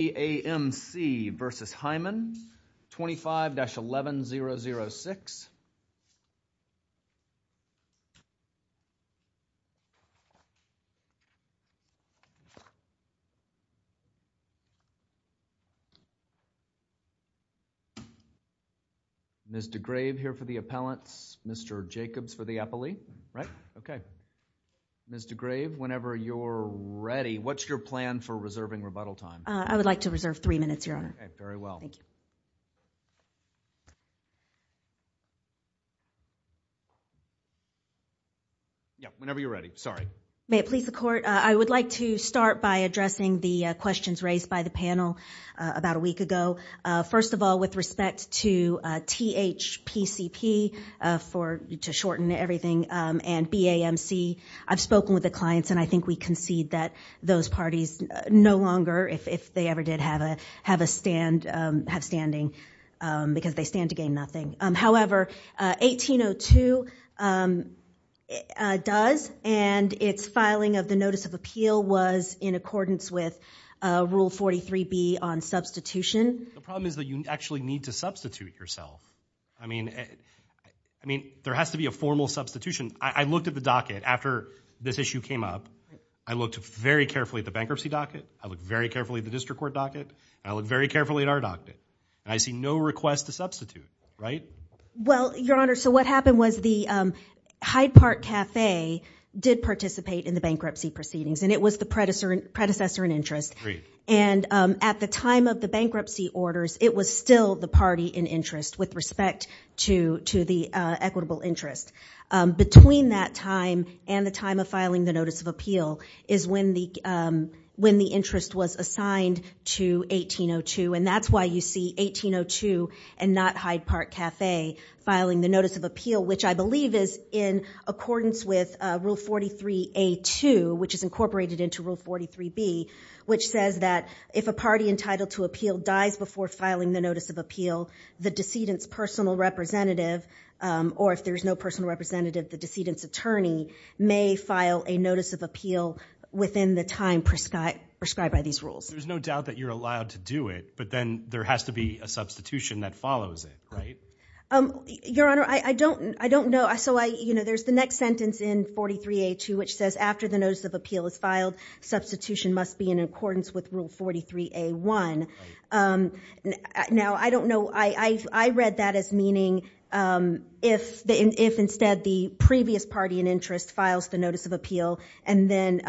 BAMC v. Hyman, 25-11006. Ms. DeGrave here for the appellants, Mr. Jacobs for the appellee, right? Okay. Ms. DeGrave, whenever you're ready, what's your plan for reserving rebuttal time? I would like to reserve three minutes, Your Honor. Okay, very well. Thank you. Yeah, whenever you're ready. Sorry. May it please the Court? I would like to start by addressing the questions raised by the panel about a week ago. First of all, with respect to THPCP, to shorten everything, and BAMC, I've spoken with the clients, and I think we concede that those parties no longer, if they ever did have a stand, have standing, because they stand to gain nothing. However, 1802 does, and its filing of the Notice of Appeal was in accordance with Rule 43B on substitution. The problem is that you actually need to substitute yourself. I mean, there has to be a formal substitution. I looked at the docket after this issue came up. I looked very carefully at the bankruptcy docket. I looked very carefully at the district court docket, and I looked very carefully at our docket, and I see no request to substitute, right? Well, Your Honor, so what happened was the Hyde Park Cafe did participate in the bankruptcy proceedings, and it was the predecessor in interest. And at the time of the bankruptcy orders, it was still the party in interest with respect to the equitable interest. Between that time and the time of filing the Notice of Appeal is when the interest was assigned to 1802, and that's why you see 1802 and not Hyde Park Cafe filing the Notice of Appeal, which I believe is in accordance with Rule 43A-2, which is incorporated into Rule 43B, which says that if a party entitled to appeal dies before filing the Notice of Appeal, the decedent's personal representative, or if there's no personal representative, the decedent's attorney, may file a Notice of Appeal within the time prescribed by these rules. There's no doubt that you're allowed to do it, but then there has to be a substitution that follows it, right? Your Honor, I don't know. So there's the next sentence in 43A-2, which says after the Notice of Appeal is filed, substitution must be in accordance with Rule 43A-1. Now, I don't know, I read that as meaning if instead the previous party in interest files the Notice of Appeal, and then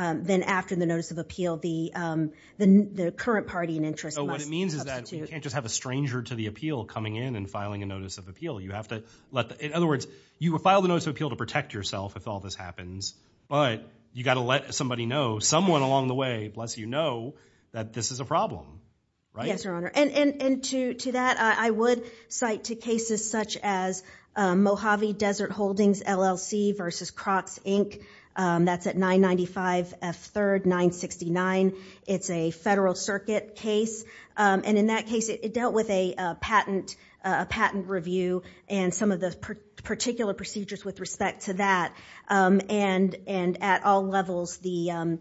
after the Notice of Appeal, the current party in interest must substitute. So what it means is that you can't just have a stranger to the appeal coming in and filing a Notice of Appeal. You have to let the, in other words, you would file the Notice of Appeal to protect yourself if all this happens, but you got to let somebody know, someone along the way, let's you know that this is a problem. Right? And to that, I would cite to cases such as Mojave Desert Holdings LLC versus Crocs, Inc. That's at 995 F. 3rd, 969. It's a federal circuit case, and in that case, it dealt with a patent review and some of the particular procedures with respect to that, and at all levels, the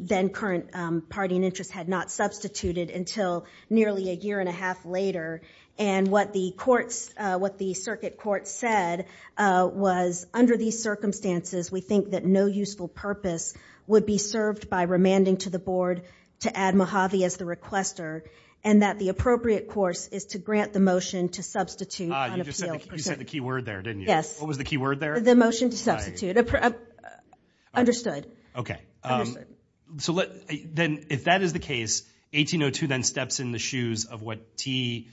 then current party in interest had not substituted until nearly a year and a half later. And what the courts, what the circuit court said was, under these circumstances, we think that no useful purpose would be served by remanding to the board to add Mojave as the requester, and that the appropriate course is to grant the motion to substitute on appeal. Ah, you just said the key word there, didn't you? Yes. What was the key word there? The motion to substitute. Understood. Okay. Understood. So let, then, if that is the case, 1802 then steps in the shoes of what THPCP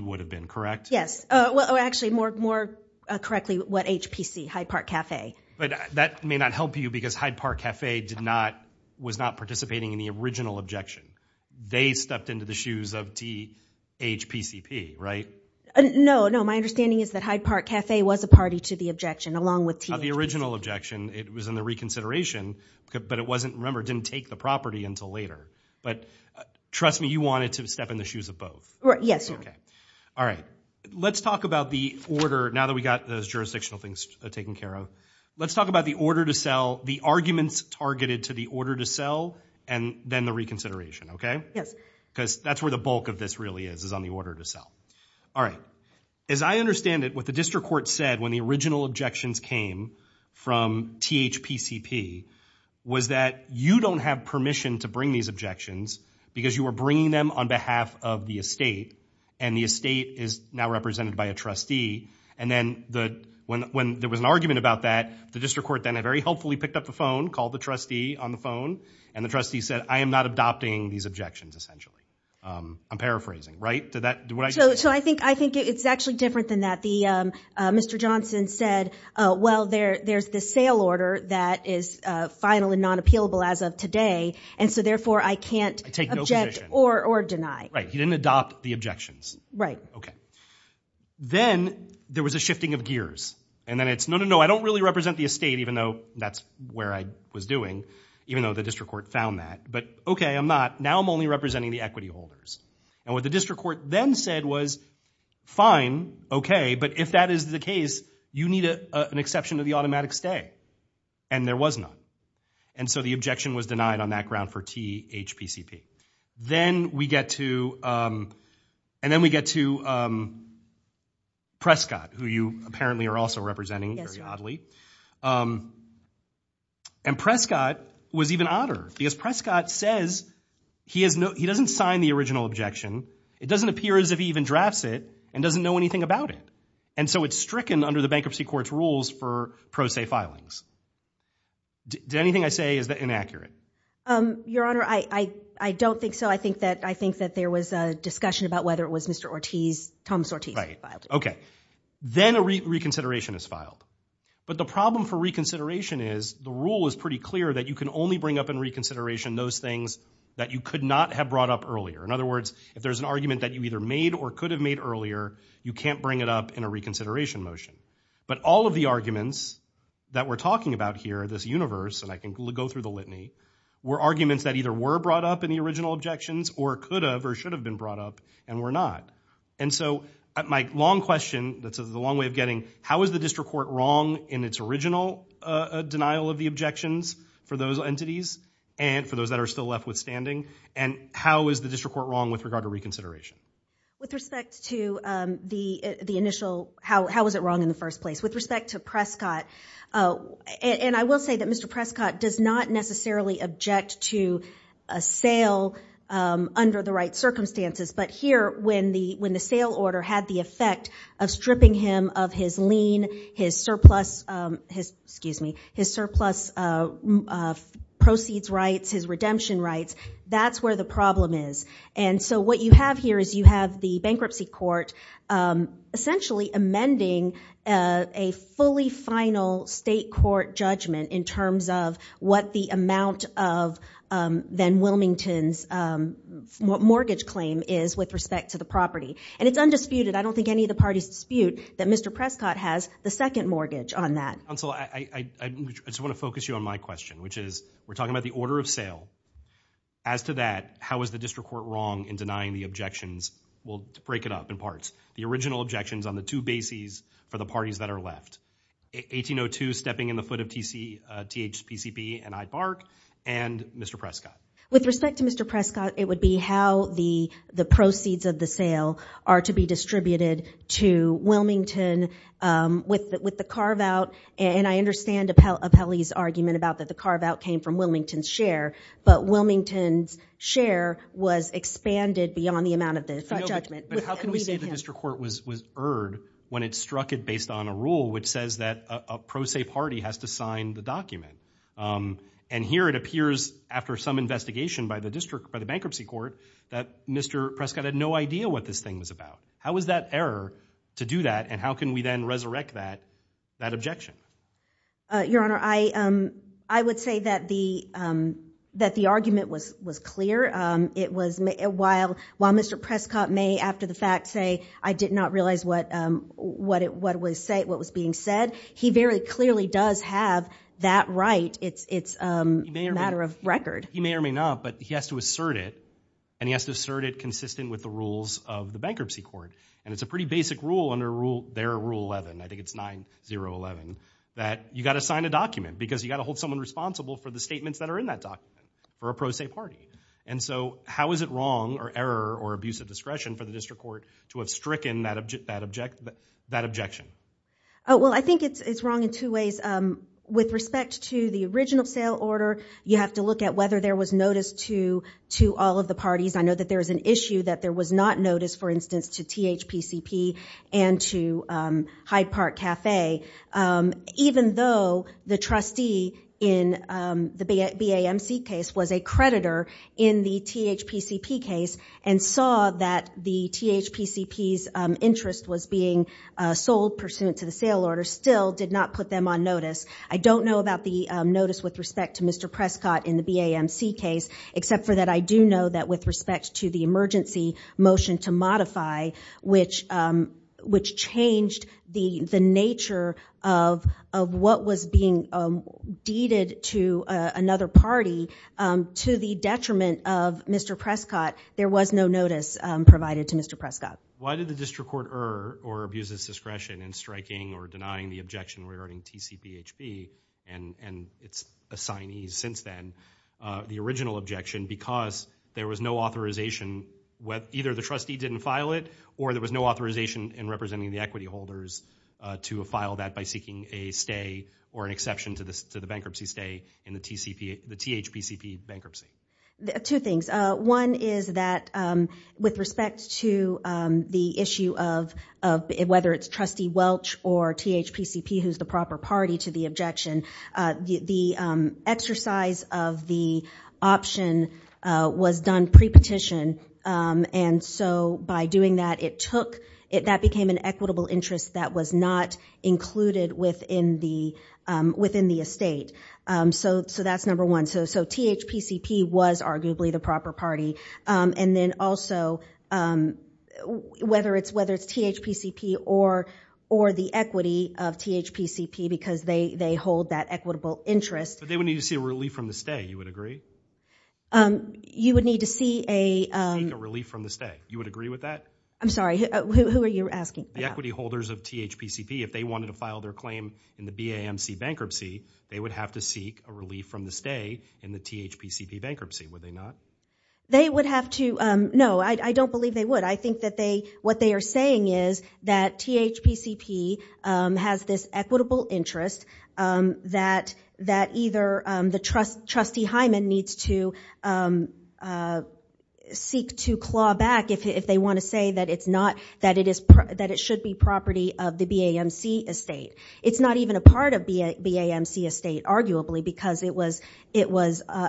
would have been, correct? Yes. Well, actually, more correctly, what HPC, Hyde Park Cafe. But that may not help you, because Hyde Park Cafe did not, was not participating in the original objection. They stepped into the shoes of THPCP, right? No, no, my understanding is that Hyde Park Cafe was a party to the objection, along with the original objection. It was in the reconsideration, but it wasn't, remember, didn't take the property until later. But trust me, you wanted to step in the shoes of both. Right, yes. Okay. All right. Let's talk about the order, now that we got those jurisdictional things taken care of. Let's talk about the order to sell, the arguments targeted to the order to sell, and then the reconsideration, okay? Yes. Because that's where the bulk of this really is, is on the order to sell. All right. As I understand it, what the district court said when the original objections came from THPCP, was that you don't have permission to bring these objections, because you were bringing them on behalf of the estate, and the estate is now represented by a trustee. And then when there was an argument about that, the district court then very helpfully picked up the phone, called the trustee on the phone, and the trustee said, I am not adopting these objections, essentially. I'm paraphrasing, right? Did that, did what I just say? So I think it's actually different than that. Mr. Johnson said, well, there's the sale order that is final and non-appealable as of today, and so therefore I can't object or deny. Right. He didn't adopt the objections. Right. Okay. Then there was a shifting of gears, and then it's, no, no, no, I don't really represent the estate, even though that's where I was doing, even though the district court found that. But okay, I'm not. Now I'm only representing the equity holders. And what the district court then said was, fine, okay, but if that is the case, you need an exception to the automatic stay. And there was none. And so the objection was denied on that ground for THPCP. Then we get to, and then we get to Prescott, who you apparently are also representing, very oddly. And Prescott was even odder, because Prescott says he has no, he doesn't sign the original objection. It doesn't appear as if he even drafts it and doesn't know anything about it. And so it's stricken under the bankruptcy court's rules for pro se filings. Anything I say is inaccurate? Your Honor, I don't think so. I think that there was a discussion about whether it was Mr. Ortiz, Thomas Ortiz, who Right. Okay. Then a reconsideration is filed. But the problem for reconsideration is, the rule is pretty clear that you can only bring up in reconsideration those things that you could not have brought up earlier. In other words, if there's an argument that you either made or could have made earlier, you can't bring it up in a reconsideration motion. But all of the arguments that we're talking about here, this universe, and I can go through the litany, were arguments that either were brought up in the original objections or could have or should have been brought up and were not. And so my long question, that's the long way of getting, how is the district court wrong in its original denial of the objections for those entities and for those that are still left withstanding? And how is the district court wrong with regard to reconsideration? With respect to the initial, how was it wrong in the first place? With respect to Prescott, and I will say that Mr. Prescott does not necessarily object to a sale under the right circumstances. But here, when the sale order had the effect of stripping him of his lien, his surplus, excuse me, his surplus proceeds rights, his redemption rights, that's where the problem is. And so what you have here is you have the bankruptcy court essentially amending a fully final state court judgment in terms of what the amount of then Wilmington's mortgage claim is with respect to the property. And it's undisputed, I don't think any of the parties dispute that Mr. Prescott has the second mortgage on that. Counsel, I just want to focus you on my question, which is, we're talking about the order of sale. As to that, how is the district court wrong in denying the objections? We'll break it up in parts. The original objections on the two bases for the parties that are left. 1802, stepping in the foot of THPCP and iBARC, and Mr. Prescott. With respect to Mr. Prescott, it would be how the proceeds of the sale are to be distributed to Wilmington with the carve-out. And I understand Apelli's argument about that the carve-out came from Wilmington's share, but Wilmington's share was expanded beyond the amount of the judgment. But how can we say the district court was erred when it struck it based on a rule which says that a pro se party has to sign the document? And here it appears, after some investigation by the district, by the bankruptcy court, that Mr. Prescott had no idea what this thing was about. How is that error to do that, and how can we then resurrect that objection? Your Honor, I would say that the argument was clear. It was, while Mr. Prescott may, after the fact, say, I did not realize what was being said, he very clearly does have that right. It's a matter of record. He may or may not, but he has to assert it, and he has to assert it consistent with the rules of the bankruptcy court. And it's a pretty basic rule under their Rule 11, I think it's 9011, that you've got to sign a document, because you've got to hold someone responsible for the statements that are in that document, for a pro se party. And so, how is it wrong, or error, or abuse of discretion for the district court to have stricken that objection? Well, I think it's wrong in two ways. With respect to the original sale order, you have to look at whether there was notice to all of the parties. I know that there is an issue that there was not notice, for instance, to THPCP and to Hyde Park Cafe. Even though the trustee in the BAMC case was a creditor in the THPCP case, and saw that the THPCP's interest was being sold pursuant to the sale order, still did not put them on notice. I don't know about the notice with respect to Mr. Prescott in the BAMC case, except for that I do know that with respect to the emergency motion to modify, which changed the nature of what was being deeded to another party, to the detriment of Mr. Prescott, there was no notice provided to Mr. Prescott. Why did the district court err, or abuse its discretion in striking or denying the objection regarding TCPHP and its assignees since then, the original objection, because there was no authorization, either the trustee didn't file it, or there was no authorization in representing the equity holders to file that by seeking a stay or an exception to the bankruptcy stay in the THPCP bankruptcy? Two things. One is that with respect to the issue of whether it's Trustee Welch or THPCP who's the proper party to the objection, the exercise of the option was done pre-petition, and so by doing that it took, that became an equitable interest that was not included within the estate. So that's number one. So THPCP was arguably the proper party. And then also, whether it's THPCP or the equity of THPCP, because they hold that equitable interest. But they would need to see a relief from the stay, you would agree? You would need to see a... Seek a relief from the stay. You would agree with that? I'm sorry, who are you asking? The equity holders of THPCP, if they wanted to file their claim in the BAMC bankruptcy, they would have to seek a relief from the stay in the THPCP bankruptcy, would they not? They would have to, no, I don't believe they would. I think that they, what they are saying is that THPCP has this equitable interest that either the trustee Hyman needs to seek to claw back if they want to say that it's not, that it is, that it should be property of the BAMC estate. It's not even a part of BAMC estate, arguably, because it was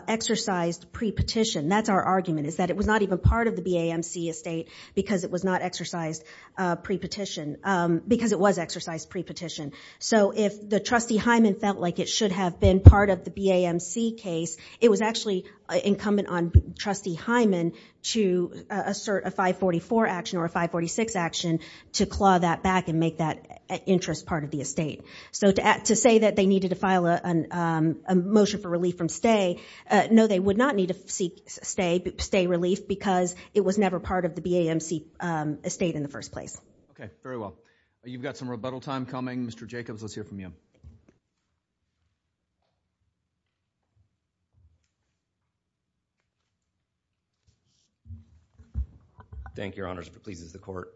exercised pre-petition. That's our argument, is that it was not even part of the BAMC estate because it was not exercised pre-petition, because it was exercised pre-petition. So if the trustee Hyman felt like it should have been part of the BAMC case, it was actually incumbent on trustee Hyman to assert a 544 action or a 546 action to claw that back and make that interest part of the estate. So to say that they needed to file a motion for relief from stay, no, they would not need to seek stay relief because it was never part of the BAMC estate in the first place. Okay, very well. You've got some rebuttal time coming. Mr. Jacobs, let's hear from you. Thank you, Your Honors. If it pleases the court.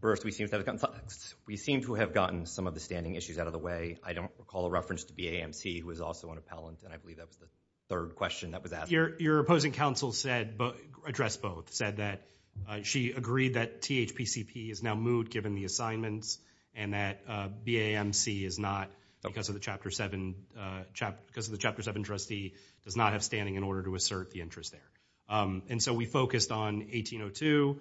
First, we seem to have gotten some of the standing issues out of the way. I don't recall a reference to BAMC, who is also an appellant, and I believe that was the third question that was asked. Your opposing counsel addressed both, said that she agreed that THPCP is now moot given the assignments and that BAMC is not, because of the Chapter 7 trustee, does not have standing in order to assert the interest there. And so we focused on 1802,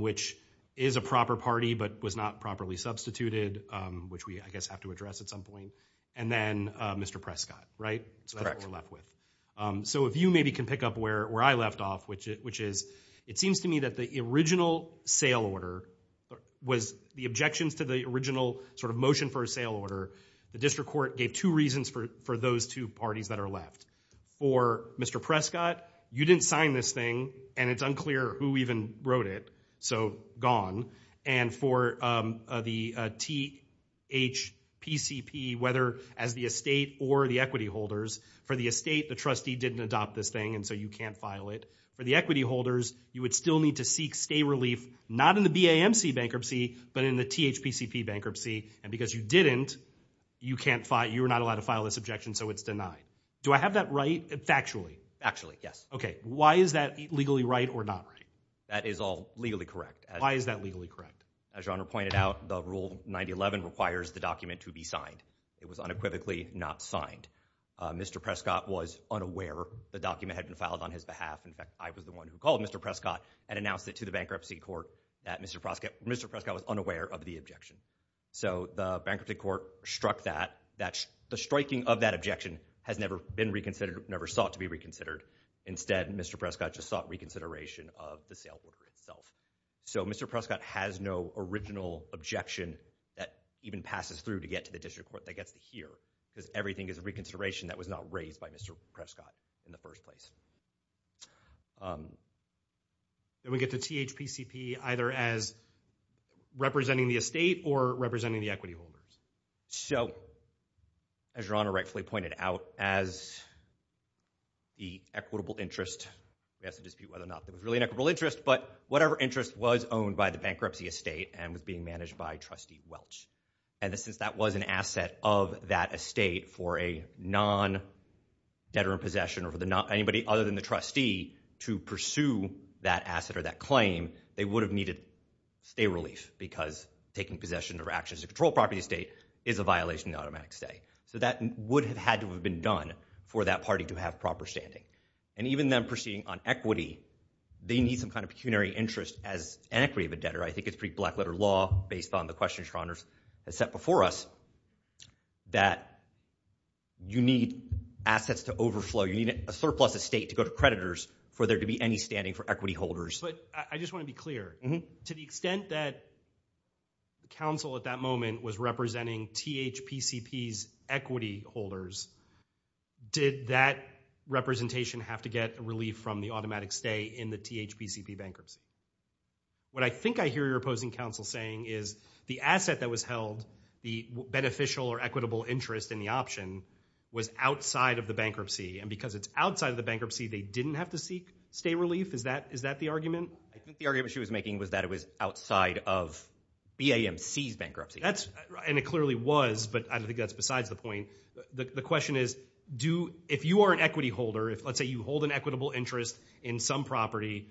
which is a proper party, but was not properly substituted, which we, I guess, have to address at some point. And then Mr. Prescott, right, that's what we're left with. So if you maybe can pick up where I left off, which is, it seems to me that the original sale order was the objections to the original sort of motion for a sale order. The district court gave two reasons for those two parties that are left. For Mr. Prescott, you didn't sign this thing, and it's unclear who even wrote it, so gone. And for the THPCP, whether as the estate or the equity holders, for the estate, the trustee didn't adopt this thing, and so you can't file it. For the equity holders, you would still need to seek stay relief, not in the BAMC bankruptcy, but in the THPCP bankruptcy, and because you didn't, you can't file, you are not allowed to file this objection, so it's denied. Do I have that right factually? Factually, yes. Okay, why is that legally right or not right? That is all legally correct. Why is that legally correct? As your Honor pointed out, the Rule 9011 requires the document to be signed. It was unequivocally not signed. Mr. Prescott was unaware the document had been filed on his behalf. In fact, I was the one who called Mr. Prescott and announced it to the bankruptcy court that Mr. Prescott was unaware of the objection. So the bankruptcy court struck that, the striking of that objection has never been reconsidered, never sought to be reconsidered. Instead, Mr. Prescott just sought reconsideration of the sale order itself. So Mr. Prescott has no original objection that even passes through to get to the district court that gets to hear, because everything is a reconsideration that was not raised by Mr. Prescott in the first place. Then we get to THPCP either as representing the estate or representing the equity holders. So as your Honor rightfully pointed out, as the equitable interest, we have to dispute whether or not it was really an equitable interest, but whatever interest was owned by the bankruptcy estate and was being managed by Trustee Welch. And since that was an asset of that estate for a non-debtor in possession or for anybody other than the trustee to pursue that asset or that claim, they would have needed stay relief because taking possession or actions to control property estate is a violation of automatic stay. So that would have had to have been done for that party to have proper standing. And even them proceeding on equity, they need some kind of pecuniary interest as an equity of a debtor. I think it's pretty black-letter law based on the questions your Honor has set before us that you need assets to overflow, you need a surplus estate to go to creditors for there to be any standing for equity holders. But I just want to be clear. To the extent that counsel at that moment was representing THPCP's equity holders, did that representation have to get relief from the automatic stay in the THPCP bankruptcy? What I think I hear your opposing counsel saying is the asset that was held, the beneficial or equitable interest in the option, was outside of the bankruptcy. And because it's outside of the bankruptcy, they didn't have to seek stay relief? Is that the argument? I think the argument she was making was that it was outside of BAMC's bankruptcy. And it clearly was, but I don't think that's besides the point. The question is, if you are an equity holder, if let's say you hold an equitable interest in some property,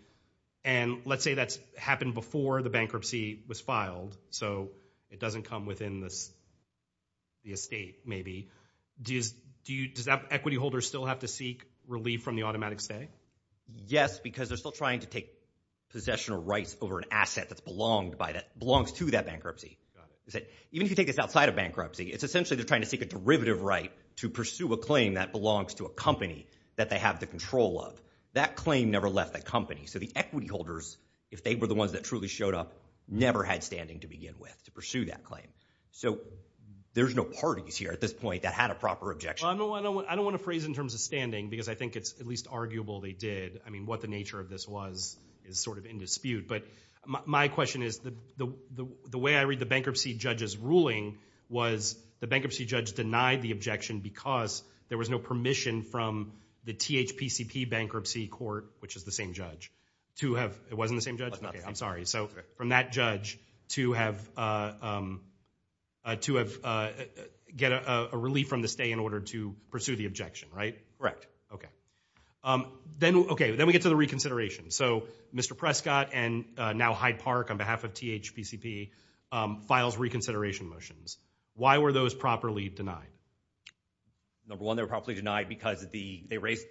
and let's say that's happened before the bankruptcy was filed, so it doesn't come within the estate maybe, does that equity holder still have to seek relief from the automatic stay? Yes, because they're still trying to take possession of rights over an asset that belongs to that bankruptcy. Even if you take this outside of bankruptcy, it's essentially they're trying to seek a derivative right to pursue a claim that belongs to a company that they have the control of. That claim never left that company. So the equity holders, if they were the ones that truly showed up, never had standing to begin with to pursue that claim. So there's no parties here at this point that had a proper objection. I don't want to phrase it in terms of standing, because I think it's at least arguable they did. I mean, what the nature of this was is sort of in dispute. But my question is, the way I read the bankruptcy judge's ruling was the bankruptcy judge denied the objection because there was no permission from the THPCP bankruptcy court, which is the same judge, to have, it wasn't the same judge? I'm sorry. So from that judge to have, to get a relief from the stay in order to pursue the objection, right? Correct. Okay. Then, okay, then we get to the reconsideration. So Mr. Prescott and now Hyde Park on behalf of THPCP files reconsideration motions. Why were those properly denied? Number one, they were probably denied because they raised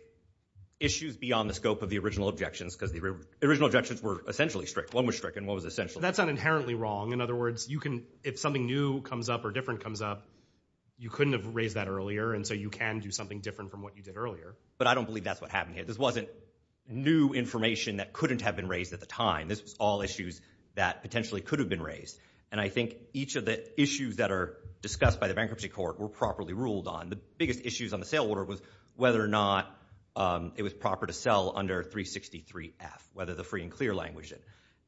issues beyond the scope of the original objections, because the original objections were essentially strict. One was strict and one was essentially strict. That's not inherently wrong. In other words, you can, if something new comes up or different comes up, you couldn't have raised that earlier. And so you can do something different from what you did earlier. But I don't believe that's what happened here. This wasn't new information that couldn't have been raised at the time. This was all issues that potentially could have been raised. And I think each of the issues that are discussed by the bankruptcy court were properly ruled on. The biggest issues on the sale order was whether or not it was proper to sell under 363F, whether the free and clear language.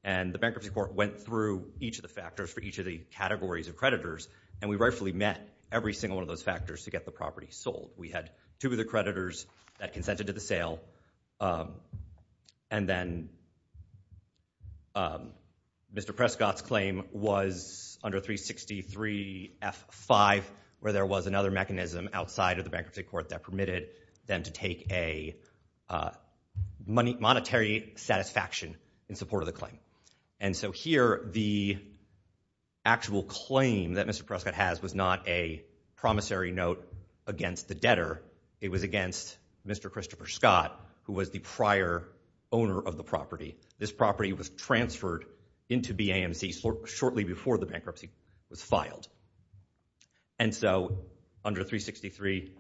And the bankruptcy court went through each of the factors for each of the categories of creditors, and we rightfully met every single one of those factors to get the property sold. We had two of the creditors that consented to the sale. And then Mr. Prescott's claim was under 363F5, where there was another mechanism outside of the bankruptcy court that permitted them to take a monetary satisfaction in support of the claim. And so here, the actual claim that Mr. Prescott has was not a promissory note against the debtor. It was against Mr. Christopher Scott, who was the prior owner of the property. This property was transferred into BAMC shortly before the bankruptcy was filed. And so under 363F5,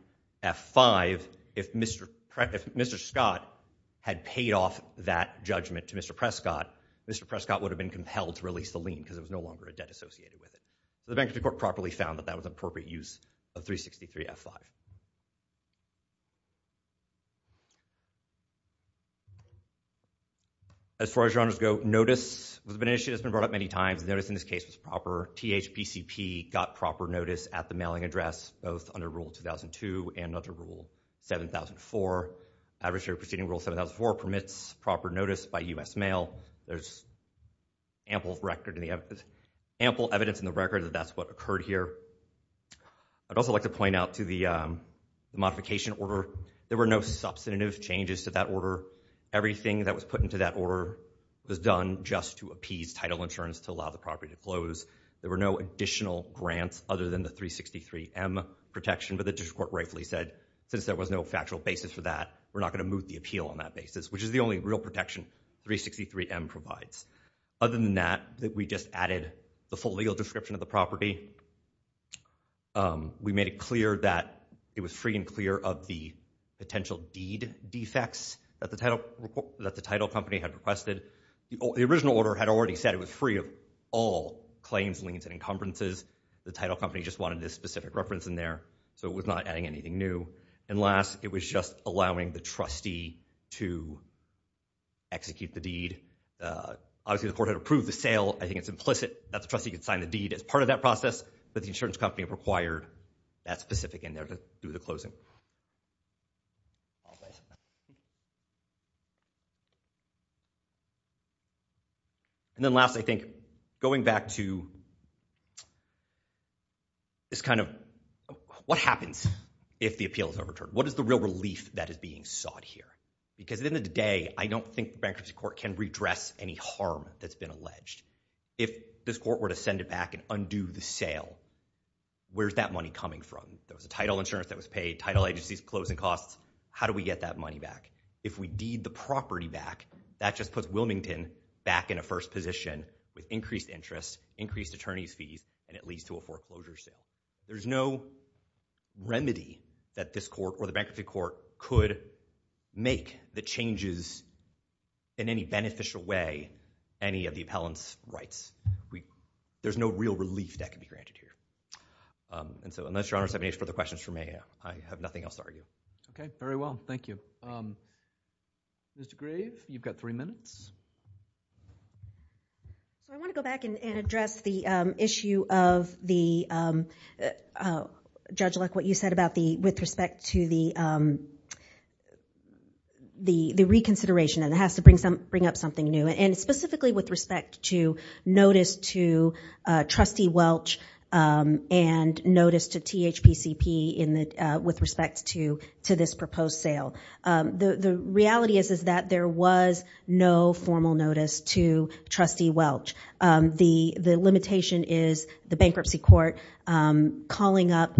if Mr. Scott had paid off that judgment to Mr. Prescott, Mr. Prescott would have been compelled to release the lien, because it was no longer a debt associated with it. The bankruptcy court properly found that that was an appropriate use of 363F5. As far as your honors go, notice was an issue that's been brought up many times. The notice in this case was proper. THPCP got proper notice at the mailing address, both under Rule 2002 and under Rule 7004. Adversary Proceeding Rule 7004 permits proper notice by U.S. mail. There's ample evidence in the record that that's what occurred here. I'd also like to point out to the modification order, there were no substantive changes to that order. Everything that was put into that order was done just to appease title insurance to allow the property to close. There were no additional grants other than the 363M protection. But the district court rightfully said, since there was no factual basis for that, we're not going to move the appeal on that basis. Which is the only real protection 363M provides. Other than that, we just added the full legal description of the property. We made it clear that it was free and clear of the potential deed defects that the title company had requested. The original order had already said it was free of all claims, liens, and encumbrances. The title company just wanted this specific reference in there, so it was not adding anything new. And last, it was just allowing the trustee to execute the deed. Obviously, the court had approved the sale. I think it's implicit that the trustee could sign the deed as part of that process, but the insurance company required that specific in there to do the closing. And then last, I think, going back to this kind of, what happens if the appeal is overturned? What is the real relief that is being sought here? Because at the end of the day, I don't think the bankruptcy court can redress any harm that's been alleged. If this court were to send it back and undo the sale, where's that money coming from? There was a title insurance that was paid, title agencies closing costs. How do we get that money back? If we deed the property back, that just puts Wilmington back in a first position with increased interest, increased attorney's fees, and it leads to a foreclosure sale. There's no remedy that this court or the bankruptcy court could make that changes in any beneficial way any of the appellant's rights. There's no real relief that can be granted here. Unless your honors have any further questions for me, I have nothing else to argue. Okay. Very well. Thank you. Mr. Grave? You've got three minutes. I want to go back and address the issue of the, Judge Luck, what you said about the, with respect to the reconsideration, and it has to bring up something new, and specifically with respect to notice to trustee Welch and notice to THPCP with respect to this proposed sale. The reality is that there was no formal notice to trustee Welch. The limitation is the bankruptcy court calling up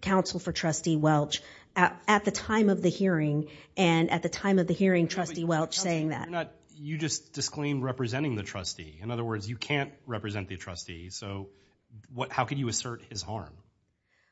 counsel for trustee Welch at the time of the hearing, and at the time of the hearing, trustee Welch saying that. You're not, you just disclaimed representing the trustee. In other words, you can't represent the trustee, so how could you assert his harm?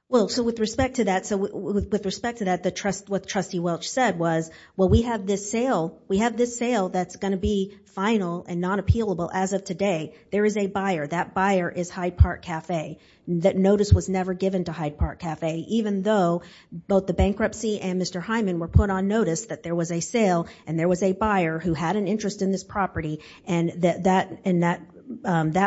Well, so with respect to that, so with respect to that, what trustee Welch said was, well, we have this sale. We have this sale that's going to be final and not appealable as of today. There is a buyer. That buyer is Hyde Park Cafe. That notice was never given to Hyde Park Cafe, even though both the bankruptcy and Mr. Hyman were put on notice that there was a sale, and there was a buyer who had an interest in this property, and that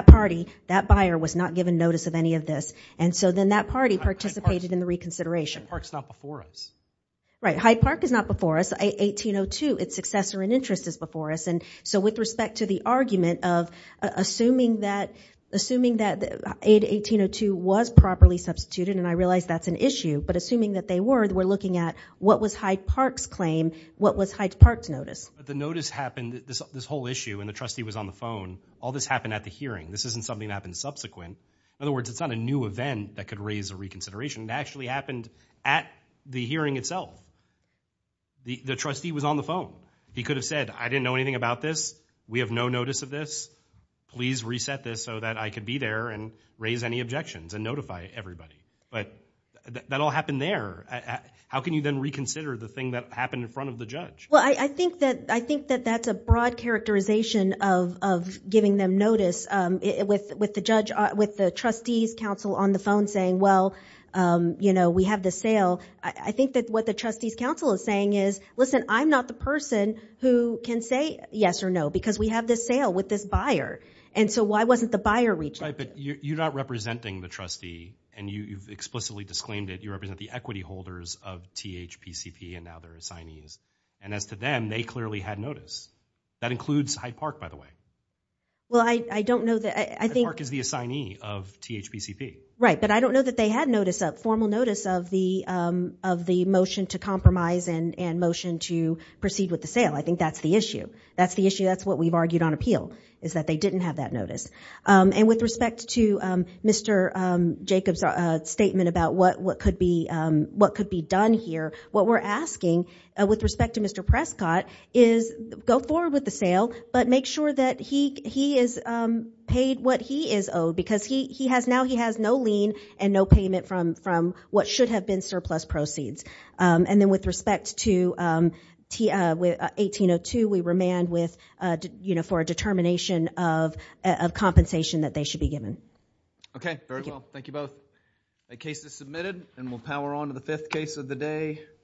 party, that buyer was not given notice of any of this. And so then that party participated in the reconsideration. Hyde Park's not before us. Right. Hyde Park is not before us. 1802, its successor in interest is before us. And so with respect to the argument of assuming that 1802 was properly substituted, and I realize that's an issue, but assuming that they were, we're looking at what was Hyde Park's claim? What was Hyde Park's notice? The notice happened, this whole issue, and the trustee was on the phone, all this happened at the hearing. This isn't something that happened subsequent. In other words, it's not a new event that could raise a reconsideration. It actually happened at the hearing itself. The trustee was on the phone. He could have said, I didn't know anything about this. We have no notice of this. Please reset this so that I could be there and raise any objections and notify everybody. But that all happened there. How can you then reconsider the thing that happened in front of the judge? Well, I think that that's a broad characterization of giving them notice. With the judge, with the trustee's counsel on the phone saying, well, you know, we have the sale. I think that what the trustee's counsel is saying is, listen, I'm not the person who can say yes or no, because we have this sale with this buyer. And so why wasn't the buyer reaching? Right, but you're not representing the trustee, and you've explicitly disclaimed it. You represent the equity holders of THPCP, and now they're assignees. And as to them, they clearly had notice. That includes Hyde Park, by the way. Well, I don't know that I think... Hyde Park is the assignee of THPCP. Right, but I don't know that they had notice, a formal notice of the motion to compromise and motion to proceed with the sale. I think that's the issue. That's the issue. That's what we've argued on appeal, is that they didn't have that notice. And with respect to Mr. Jacobs' statement about what could be done here, what we're asking with respect to Mr. Prescott is go forward with the sale, but make sure that he is paid what he is owed, because now he has no lien and no payment from what should have been surplus proceeds. And then with respect to 1802, we remand for a determination of compensation that they should be given. Okay. Very well. Thank you both. The case is submitted, and we'll power on to the fifth case of the day.